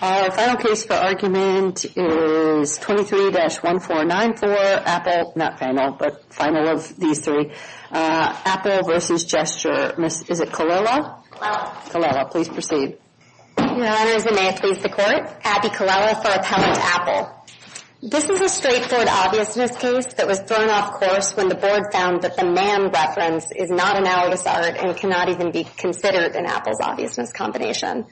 Our final case for argument is 23-1494, Apple, not final, but final of these three. Apple v. Gesture, is it Colella? Colella. Colella, please proceed. Your Honors, and may it please the Court, Abby Colella for Appellant Apple. This is a straightforward obviousness case that was thrown off course when the Board found that the man reference is not an alabasart and cannot even be considered in Apple's obviousness combination.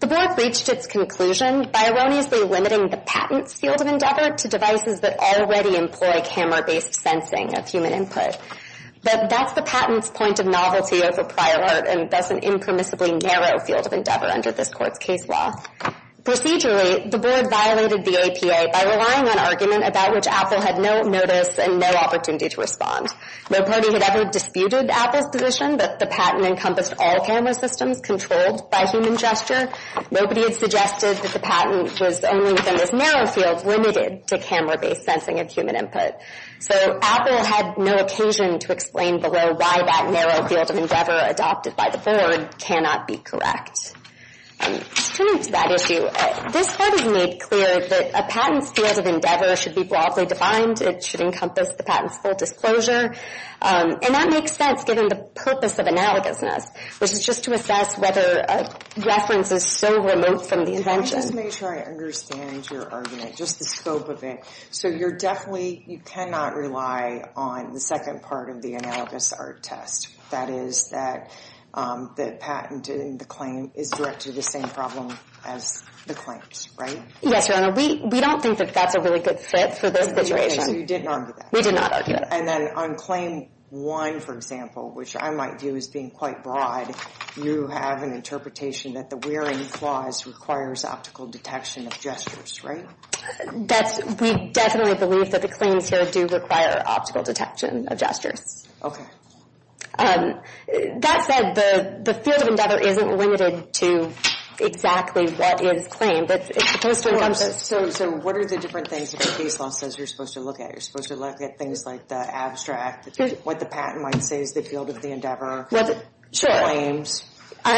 The Board reached its conclusion by erroneously limiting the patent's field of endeavor to devices that already employ camera-based sensing of human input. But that's the patent's point of novelty over prior art and thus an impermissibly narrow field of endeavor under this Court's case law. Procedurally, the Board violated the APA by relying on argument about which Apple had no notice and no opportunity to respond. No party had ever disputed Apple's position that the patent encompassed all camera systems controlled by human gesture. Nobody had suggested that the patent was only within this narrow field limited to camera-based sensing of human input. So Apple had no occasion to explain below why that narrow field of endeavor adopted by the Board cannot be correct. Turning to that issue, this Court has made clear that a patent's field of endeavor should be broadly defined. It should encompass the patent's full disclosure. And that makes sense given the purpose of analogousness, which is just to assess whether a reference is so remote from the invention. Let me just make sure I understand your argument, just the scope of it. So you're definitely, you cannot rely on the second part of the analogous art test. That is that the patent and the claim is directed to the same problem as the claims, right? Yes, Your Honor. We don't think that that's a really good fit for this situation. So you did not argue that? We did not argue that. And then on Claim 1, for example, which I might view as being quite broad, you have an interpretation that the wearing clause requires optical detection of gestures, right? We definitely believe that the claims here do require optical detection of gestures. Okay. That said, the field of endeavor isn't limited to exactly what is claimed. It's supposed to encompass... So what are the different things that the case law says you're supposed to look at? You're supposed to look at things like the abstract, what the patent might say is the field of the endeavor, the claims. And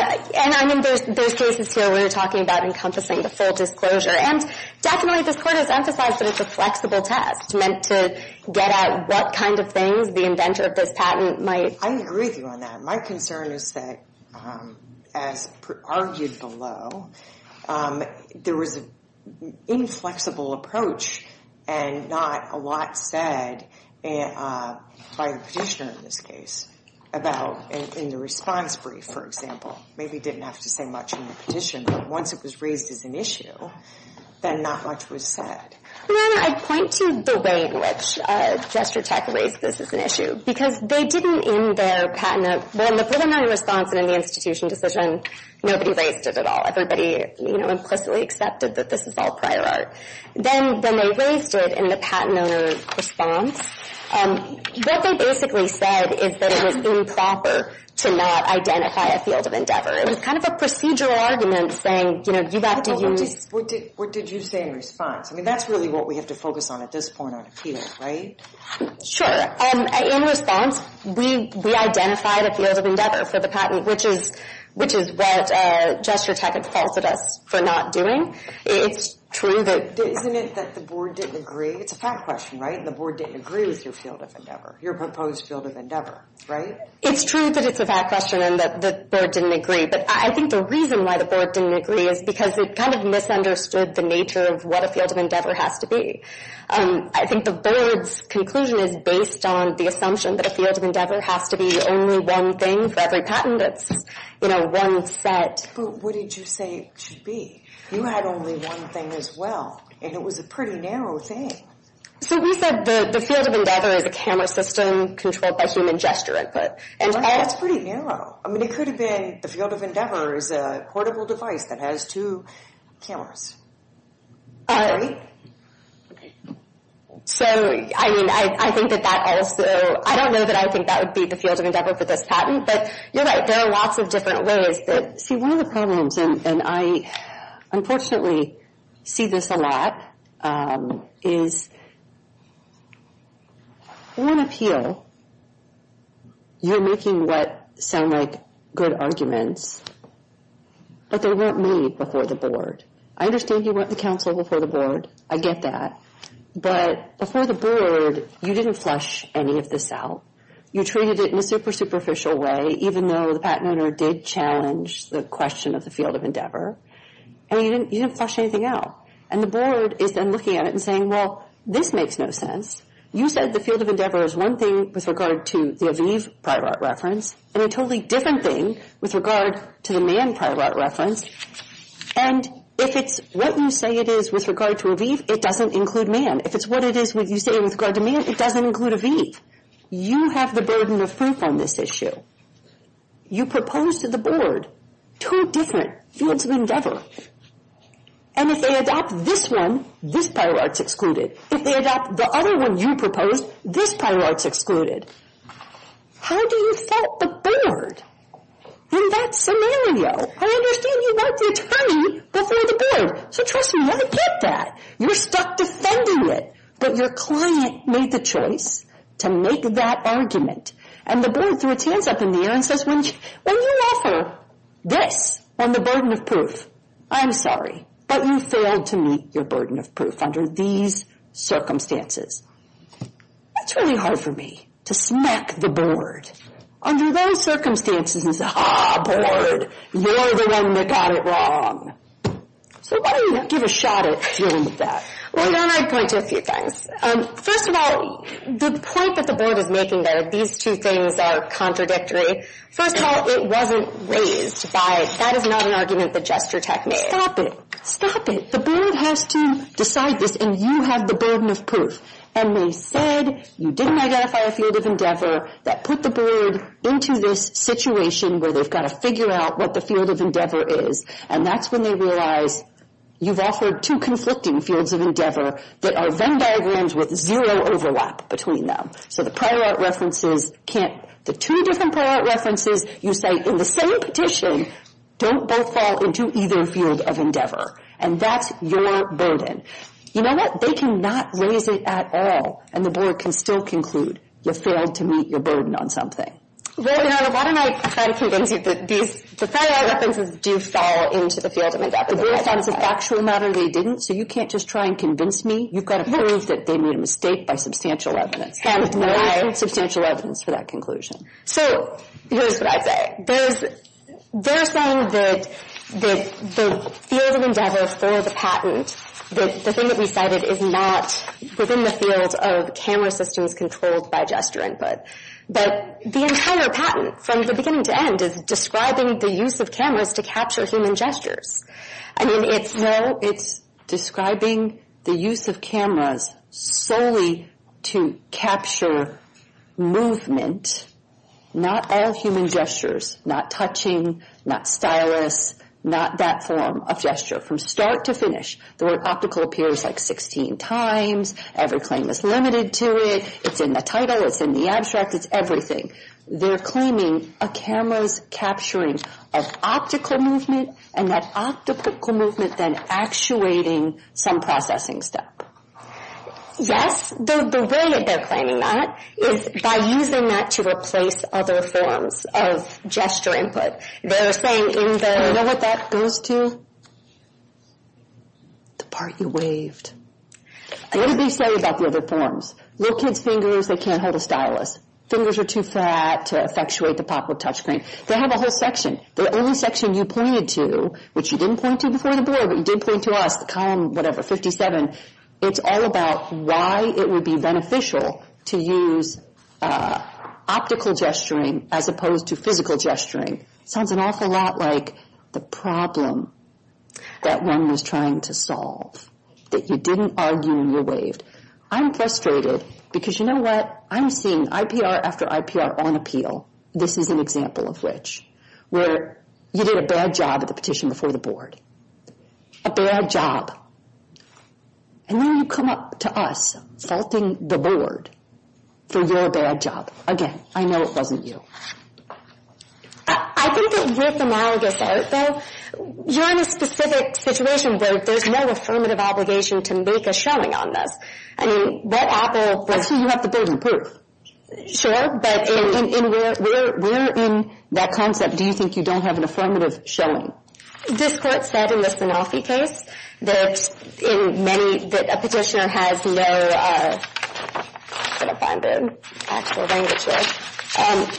I mean, there's cases here where we're talking about encompassing the full disclosure. And definitely this Court has emphasized that it's a flexible test, meant to get at what kind of things the inventor of this patent might... I agree with you on that. My concern is that, as argued below, there was an inflexible approach, and not a lot said by the petitioner in this case, about in the response brief, for example. Maybe he didn't have to say much in the petition, but once it was raised as an issue, then not much was said. Madam, I'd point to the way in which GestureTech raised this as an issue, because they didn't in their patent... Well, in the preliminary response and in the institution decision, nobody raised it at all. Everybody implicitly accepted that this is all prior art. Then when they raised it in the patent owner's response, what they basically said is that it was improper to not identify a field of endeavor. It was kind of a procedural argument saying, you know, you have to use... What did you say in response? I mean, that's really what we have to focus on at this point on appeal, right? Sure. In response, we identified a field of endeavor for the patent, which is what GestureTech had falsed us for not doing. It's true that... Isn't it that the board didn't agree? It's a fact question, right? The board didn't agree with your field of endeavor, your proposed field of endeavor, right? It's true that it's a fact question and that the board didn't agree, but I think the reason why the board didn't agree is because it kind of misunderstood the nature of what a field of endeavor has to be. I think the board's conclusion is based on the assumption that a field of endeavor has to be only one thing for every patent. It's, you know, one set. But what did you say it should be? You had only one thing as well, and it was a pretty narrow thing. So we said that the field of endeavor is a camera system controlled by human gesture input. That's pretty narrow. I mean, it could have been the field of endeavor is a portable device that has two cameras, right? So, I mean, I think that that also— I don't know that I would think that would be the field of endeavor for this patent, but you're right. There are lots of different ways that— See, one of the problems, and I unfortunately see this a lot, is on appeal you're making what sound like good arguments, but they weren't made before the board. I understand you went to counsel before the board. I get that. But before the board, you didn't flush any of this out. You treated it in a super superficial way, even though the patent owner did challenge the question of the field of endeavor, and you didn't flush anything out. And the board is then looking at it and saying, well, this makes no sense. You said the field of endeavor is one thing with regard to the Aviv private reference and a totally different thing with regard to the Mann private reference, and if it's what you say it is with regard to Aviv, it doesn't include Mann. If it's what you say it is with regard to Mann, it doesn't include Aviv. You have the burden of proof on this issue. You proposed to the board two different fields of endeavor, and if they adopt this one, this prior art's excluded. If they adopt the other one you proposed, this prior art's excluded. How do you fault the board in that scenario? I understand you want the attorney before the board. So trust me, I get that. You're stuck defending it, but your client made the choice to make that argument, and the board threw its hands up in the air and says, when you offer this on the burden of proof, I'm sorry, but you failed to meet your burden of proof under these circumstances. That's really hard for me to smack the board. Under those circumstances, it's, ah, board, you're the one that got it wrong. So why don't you give a shot at dealing with that? Why don't I point to a few things? First of all, the point that the board is making there, these two things are contradictory. First of all, it wasn't raised by, that is not an argument that Jester Tech made. Stop it. Stop it. The board has to decide this, and you have the burden of proof, and they said you didn't identify a field of endeavor that put the board into this situation where they've got to figure out what the field of endeavor is, and that's when they realize you've offered two conflicting fields of endeavor that are Venn diagrams with zero overlap between them. So the prior art references can't, the two different prior art references, you say in the same petition, don't both fall into either field of endeavor, and that's your burden. You know what, they cannot raise it at all, and the board can still conclude you failed to meet your burden on something. Well, you know, why don't I try to convince you that these, the prior art references do fall into the field of endeavor? The board found it's a factual matter they didn't, so you can't just try and convince me. You've got to prove that they made a mistake by substantial evidence. And there is substantial evidence for that conclusion. So here's what I'd say. They're saying that the field of endeavor for the patent, the thing that we cited is not within the field of camera systems controlled by gesture input, but the entire patent from the beginning to end is describing the use of cameras to capture human gestures. I mean, it's no, it's describing the use of cameras solely to capture movement, not all human gestures, not touching, not stylus, not that form of gesture from start to finish. The word optical appears like 16 times. Every claim is limited to it. It's in the title. It's in the abstract. It's everything. They're claiming a camera's capturing of optical movement and that optical movement then actuating some processing step. Yes. The way that they're claiming that is by using that to replace other forms of gesture input. They're saying in the... You know what that goes to? The part you waved. What did they say about the other forms? Little kids' fingers, they can't hold a stylus. Fingers are too fat to effectuate the pop-up touchscreen. They have a whole section. The only section you pointed to, which you didn't point to before the board, but you did point to us, the column, whatever, 57, it's all about why it would be beneficial to use optical gesturing as opposed to physical gesturing. It sounds an awful lot like the problem that one was trying to solve, that you didn't argue and you waved. I'm frustrated because you know what? I'm seeing IPR after IPR on appeal. This is an example of which. Where you did a bad job at the petition before the board. A bad job. And then you come up to us, faulting the board for your bad job. Again, I know it wasn't you. I think that with analogous art, though, you're in a specific situation where there's no affirmative obligation to make a showing on this. I mean, Red Apple was... Actually, you have the building proof. Sure, but where in that concept do you think you don't have an affirmative showing? This court said in the Sanofi case that a petitioner has no... I'm going to find an actual language here.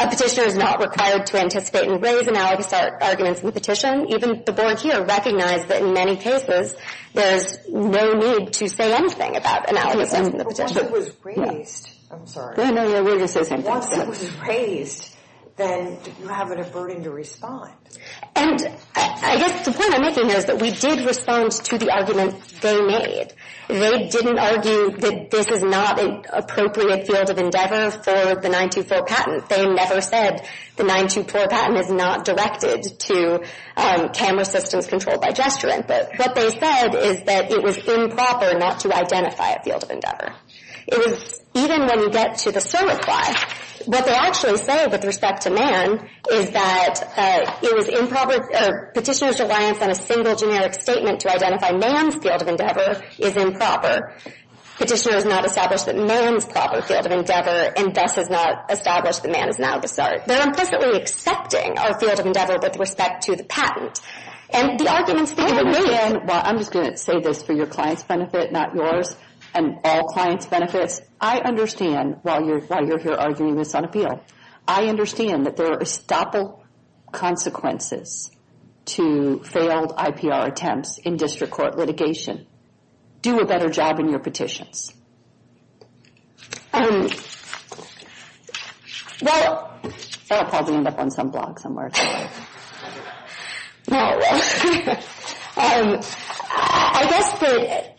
A petitioner is not required to anticipate and raise analogous arguments in the petition. Even the board here recognized that in many cases, there's no need to say anything about analogous arguments in the petition. Once it was raised, then you have a burden to respond. And I guess the point I'm making here is that we did respond to the arguments they made. They didn't argue that this is not an appropriate field of endeavor for the 924 patent. They never said the 924 patent is not directed to camera systems controlled by gesturant. But what they said is that it was improper not to identify a field of endeavor. It was... Even when you get to the surreply, what they actually say with respect to Mann is that it was improper... Petitioner's reliance on a single generic statement to identify Mann's field of endeavor is improper. Petitioner has not established that Mann's proper field of endeavor, and thus has not established that Mann is an analogous art. They're implicitly accepting our field of endeavor with respect to the patent. And the arguments they made... Well, I'm just going to say this for your client's benefit, not yours, and all clients' benefits. I understand why you're here arguing this on appeal. I understand that there are estoppel consequences to failed IPR attempts in district court litigation. Do a better job in your petitions. Um... Well... I'll probably end up on some blog somewhere. No, I will. Um... I guess that...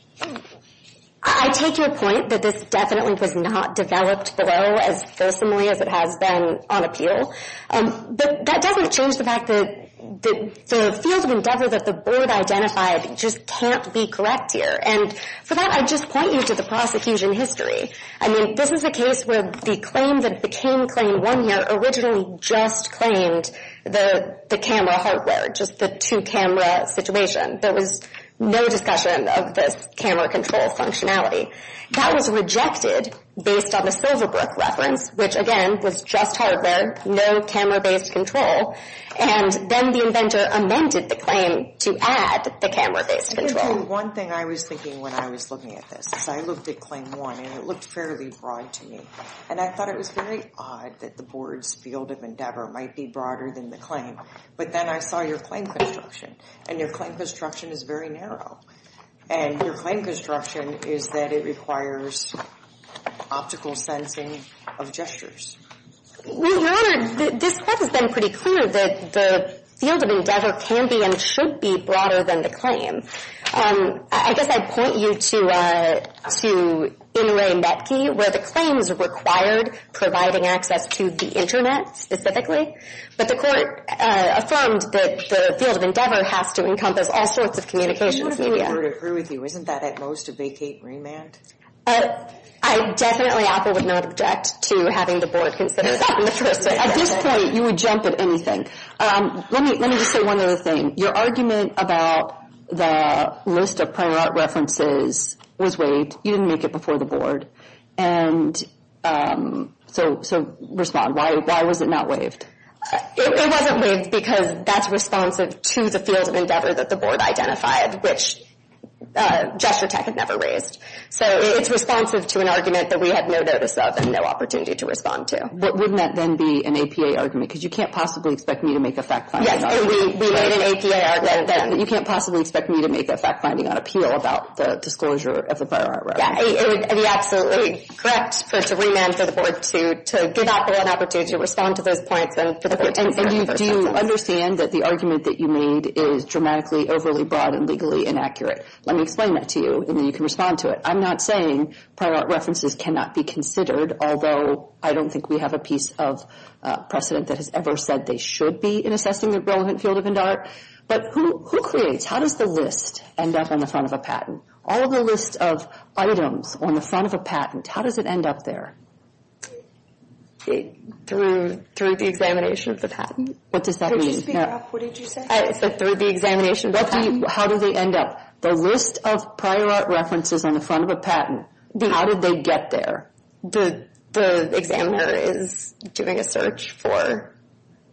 I take your point that this definitely was not developed below as personally as it has been on appeal. But that doesn't change the fact that the field of endeavor that the board identified just can't be correct here. And for that, I'd just point you to the prosecution history. I mean, this is a case where the claim that became Claim 1 here originally just claimed the camera hardware, just the two-camera situation. There was no discussion of this camera control functionality. That was rejected based on the Silverbrook reference, which, again, was just hardware, no camera-based control. And then the inventor amended the claim to add the camera-based control. One thing I was thinking when I was looking at this is I looked at Claim 1, and it looked fairly broad to me. And I thought it was very odd that the board's field of endeavor might be broader than the claim. But then I saw your claim construction, and your claim construction is very narrow. And your claim construction is that it requires optical sensing of gestures. Your Honor, this has been pretty clear that the field of endeavor can be and should be broader than the claim. I guess I'd point you to Inouye Metki, where the claims required providing access to the Internet specifically. But the court affirmed that the field of endeavor has to encompass all sorts of communications media. The board would agree with you. Isn't that at most a vacate remand? I definitely, Apple, would not object to having the board consider that in the first place. At this point, you would jump at anything. Let me just say one other thing. Your argument about the list of prior art references was waived. You didn't make it before the board. And so respond. Why was it not waived? It wasn't waived because that's responsive to the field of endeavor that the board identified, which GestureTech had never raised. So it's responsive to an argument that we had no notice of and no opportunity to respond to. But wouldn't that then be an APA argument? Because you can't possibly expect me to make a fact-finding argument. Yes, and we made an APA argument then. You can't possibly expect me to make that fact-finding on appeal about the disclosure of the prior art reference. It would be absolutely correct for it to remand for the board to give Apple an opportunity to respond to those points. And you do understand that the argument that you made is dramatically overly broad and legally inaccurate. Let me explain that to you, and then you can respond to it. I'm not saying prior art references cannot be considered, although I don't think we have a piece of precedent that has ever said they should be in assessing the relevant field of endowed. But who creates? How does the list end up on the front of a patent? All the list of items on the front of a patent, how does it end up there? Through the examination of the patent. What does that mean? Could you speak up? What did you say? Through the examination of the patent. How do they end up? The list of prior art references on the front of a patent, how did they get there? The examiner is doing a search for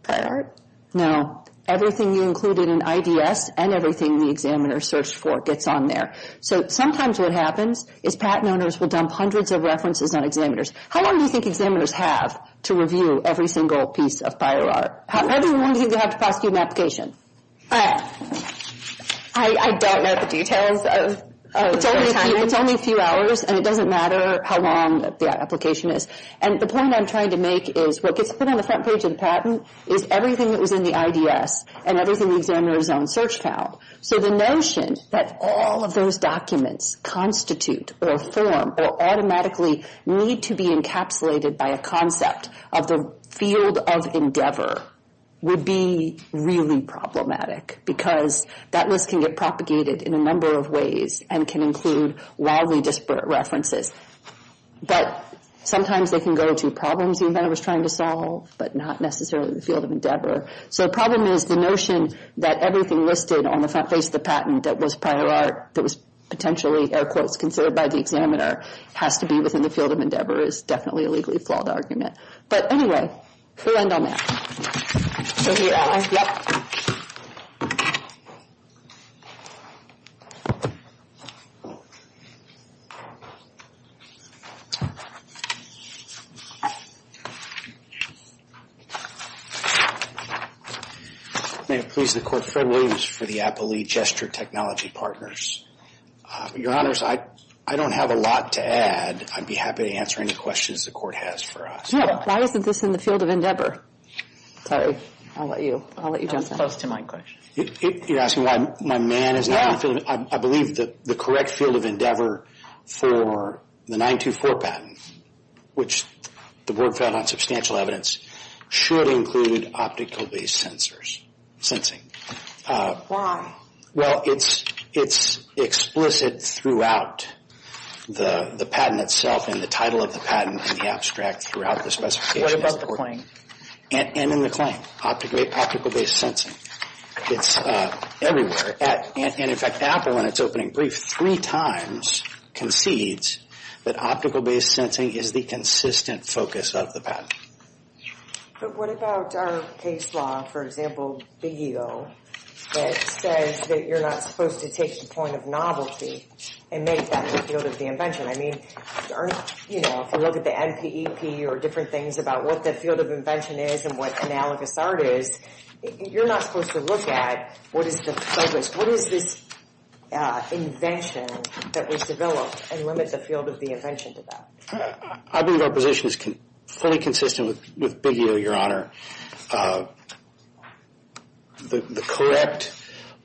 prior art. No. Everything you included in IDS and everything the examiner searched for gets on there. So sometimes what happens is patent owners will dump hundreds of references on examiners. How long do you think examiners have to review every single piece of prior art? How long do you think they have to prosecute an application? I don't know the details. It's only a few hours, and it doesn't matter how long the application is. And the point I'm trying to make is what gets put on the front page of the patent is everything that was in the IDS and everything the examiner's own search file. So the notion that all of those documents constitute or form or automatically need to be encapsulated by a concept of the field of endeavor would be really problematic because that list can get propagated in a number of ways and can include wildly disparate references. But sometimes they can go to problems the inventor was trying to solve, but not necessarily the field of endeavor. So the problem is the notion that everything listed on the front page of the patent that was prior art, that was potentially, air quotes, considered by the examiner, has to be within the field of endeavor is definitely a legally flawed argument. But anyway, we'll end on that. May it please the Court, Fred Williams for the Appley Gesture Technology Partners. Your Honors, I don't have a lot to add. I'd be happy to answer any questions the Court has for us. No. Why isn't this in the field of endeavor? Sorry. I'll let you jump in. That's close to my question. You're asking why my man is not in the field? No. I believe that the correct field of endeavor for the 924 patent, which the Board found on substantial evidence, should include optical-based sensors, sensing. Why? Well, it's explicit throughout the patent itself in the title of the patent and the abstract throughout the specification. What about the claim? And in the claim, optical-based sensing. It's everywhere. And in fact, Apple, in its opening brief, three times concedes that optical-based sensing is the consistent focus of the patent. But what about our case law, for example, Big Ego, that says that you're not supposed to take the point of novelty and make that the field of the invention? I mean, if you look at the NPEP or different things about what the field of invention is and what analogous art is, you're not supposed to look at what is the focus, what is this invention that was developed and limit the field of the invention to that. I believe our position is fully consistent with Big Ego, Your Honor. The correct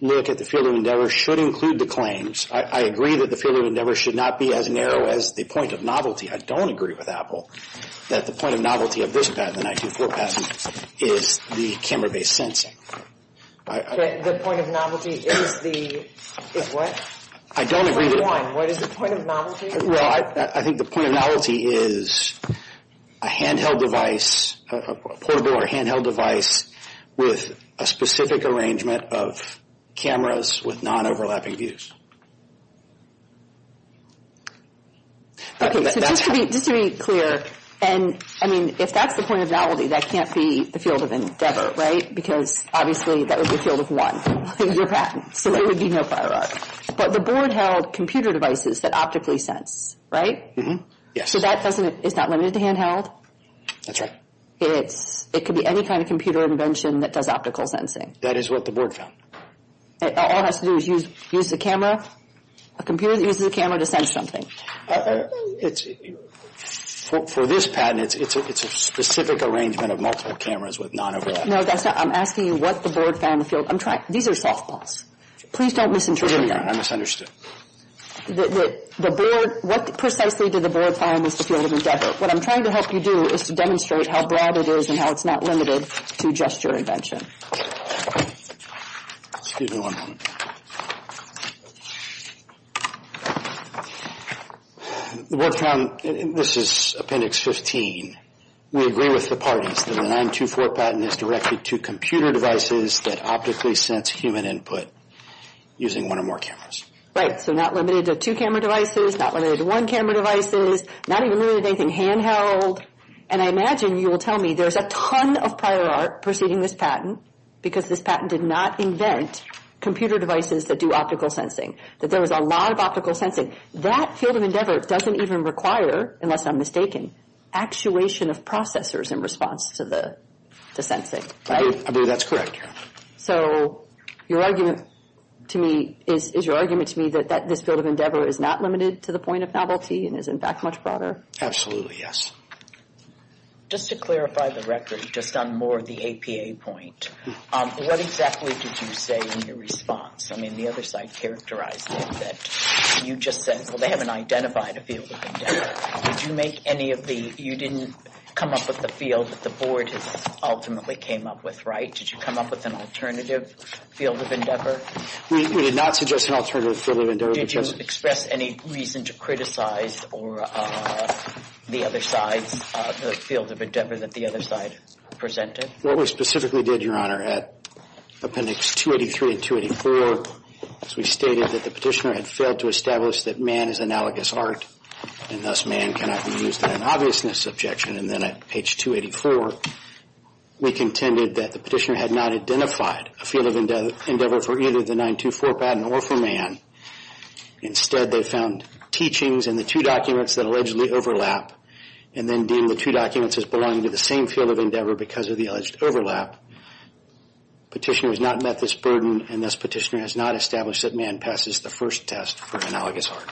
look at the field of endeavor should include the claims. I agree that the field of endeavor should not be as narrow as the point of novelty. I don't agree with Apple that the point of novelty of this patent, the 924 patent, is the camera-based sensing. The point of novelty is the what? I don't agree. What is the point of novelty? Well, I think the point of novelty is a handheld device, a portable or handheld device with a specific arrangement of cameras with non-overlapping views. Okay, so just to be clear, and, I mean, if that's the point of novelty, that can't be the field of endeavor, right? Because, obviously, that would be the field of one, your patent. So there would be no prior art. But the board held computer devices that optically sense, right? Yes. So that doesn't, it's not limited to handheld? That's right. It could be any kind of computer invention that does optical sensing. That is what the board found. All it has to do is use the camera, a computer that uses a camera to sense something. For this patent, it's a specific arrangement of multiple cameras with non-overlapping. No, that's not, I'm asking you what the board found in the field. I'm trying, these are softballs. Please don't misinterpret me. I'm sorry, I misunderstood. The board, what precisely did the board find was the field of endeavor? What I'm trying to help you do is to demonstrate how broad it is and how it's not limited to just your invention. Excuse me one moment. The board found, this is Appendix 15, we agree with the parties that the 924 patent is directed to computer devices that optically sense human input using one or more cameras. Right, so not limited to two-camera devices, not limited to one-camera devices, not even limited to anything handheld. And I imagine you will tell me there's a ton of prior art preceding this patent because this patent did not invent computer devices that do optical sensing, that there was a lot of optical sensing. That field of endeavor doesn't even require, unless I'm mistaken, actuation of processors in response to the sensing, right? I believe that's correct. So your argument to me, is your argument to me that this field of endeavor is not limited to the point of novelty and is in fact much broader? Absolutely, yes. Just to clarify the record, just on more of the APA point, what exactly did you say in your response? I mean, the other side characterized it that you just said, well, they haven't identified a field of endeavor. Did you make any of the, you didn't come up with the field that the board ultimately came up with, right? Did you come up with an alternative field of endeavor? We did not suggest an alternative field of endeavor. Did you express any reason to criticize the other side's field of endeavor that the other side presented? What we specifically did, Your Honor, at appendix 283 and 284, is we stated that the petitioner had failed to establish that man is analogous art and thus man cannot be used in an obviousness objection. And then at page 284, we contended that the petitioner had not identified a field of endeavor for either the 924 patent or for man. Instead, they found teachings in the two documents that allegedly overlap and then deemed the two documents as belonging to the same field of endeavor because of the alleged overlap. Petitioner has not met this burden and thus petitioner has not established that man passes the first test for analogous art.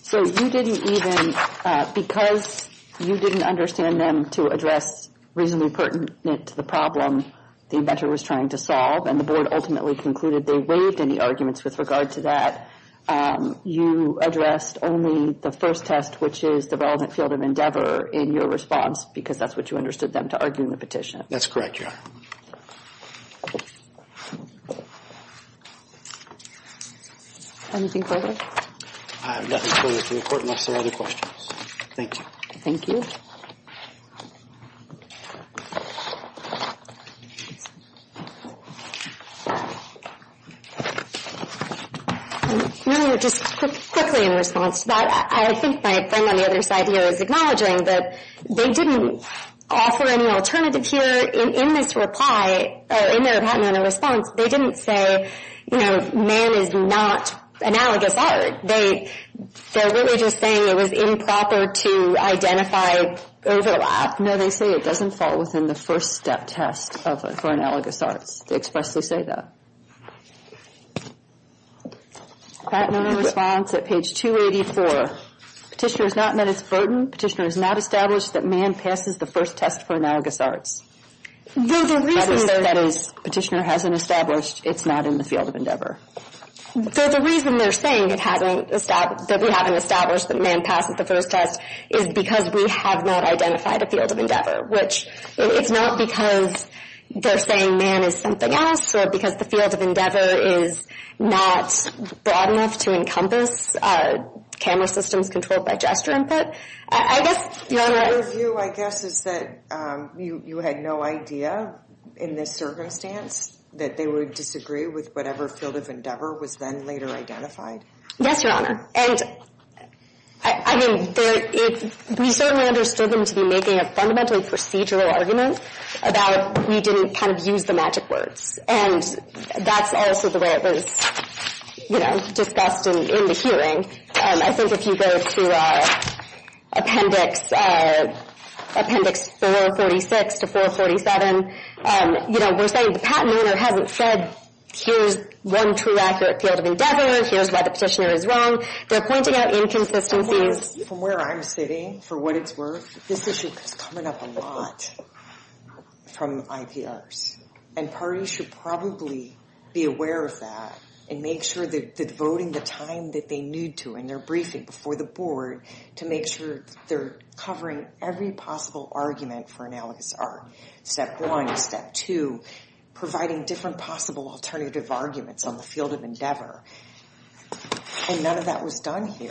So you didn't even, because you didn't understand them to address reasonably pertinent to the problem the inventor was trying to solve and the board ultimately concluded they waived any arguments with regard to that, you addressed only the first test, which is the relevant field of endeavor, in your response because that's what you understood them to argue in the petition. That's correct, Your Honor. Anything further? I have nothing further to report unless there are other questions. Thank you. Thank you. Your Honor, just quickly in response to that, I think my friend on the other side here is acknowledging that they didn't offer any alternative here in this report but in their reply, in their patent and response, they didn't say, you know, man is not analogous art. They're really just saying it was improper to identify overlap. No, they say it doesn't fall within the first step test for analogous arts. They expressly say that. Patent and response at page 284. Petitioner has not met its burden. Petitioner has not established that man passes the first test for analogous arts. That is, petitioner hasn't established it's not in the field of endeavor. So the reason they're saying that we haven't established that man passes the first test is because we have not identified a field of endeavor, which it's not because they're saying man is something else or because the field of endeavor is not broad enough to encompass camera systems controlled by gesture input. I guess, Your Honor. Your view, I guess, is that you had no idea in this circumstance that they would disagree with whatever field of endeavor was then later identified. Yes, Your Honor. And I mean, we certainly understood them to be making a fundamental procedural argument about we didn't kind of use the magic words. And that's also the way it was, you know, discussed in the hearing. I think if you go to appendix 446 to 447, you know, we're saying the patent owner hasn't said here's one true accurate field of endeavor, here's why the petitioner is wrong. They're pointing out inconsistencies. From where I'm sitting, for what it's worth, this issue is coming up a lot from IPRs. And parties should probably be aware of that and make sure they're devoting the time that they need to in their briefing before the board to make sure they're covering every possible argument for analogous art. Step one. Step two. Providing different possible alternative arguments on the field of endeavor. And none of that was done here.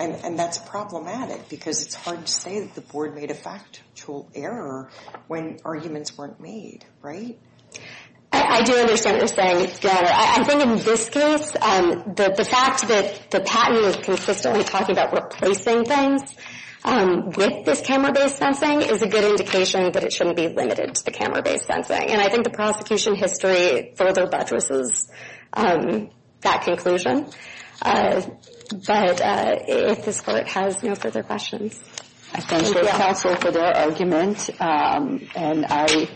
And that's problematic because it's hard to say that the board made a factual error when arguments weren't made, right? I do understand what you're saying. I think in this case the fact that the patent is consistently talking about replacing things with this camera-based sensing is a good indication that it shouldn't be limited to the camera-based sensing. And I think the prosecution history further buttresses that conclusion. But if this court has no further questions. I thank both counsel for their argument. And I,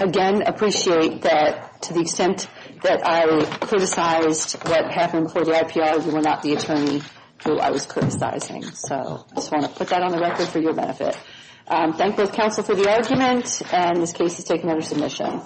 again, appreciate that to the extent that I criticized what happened before the IPR, you were not the attorney who I was criticizing. So I just want to put that on the record for your benefit. Thank both counsel for the argument. And this case is taken under submission.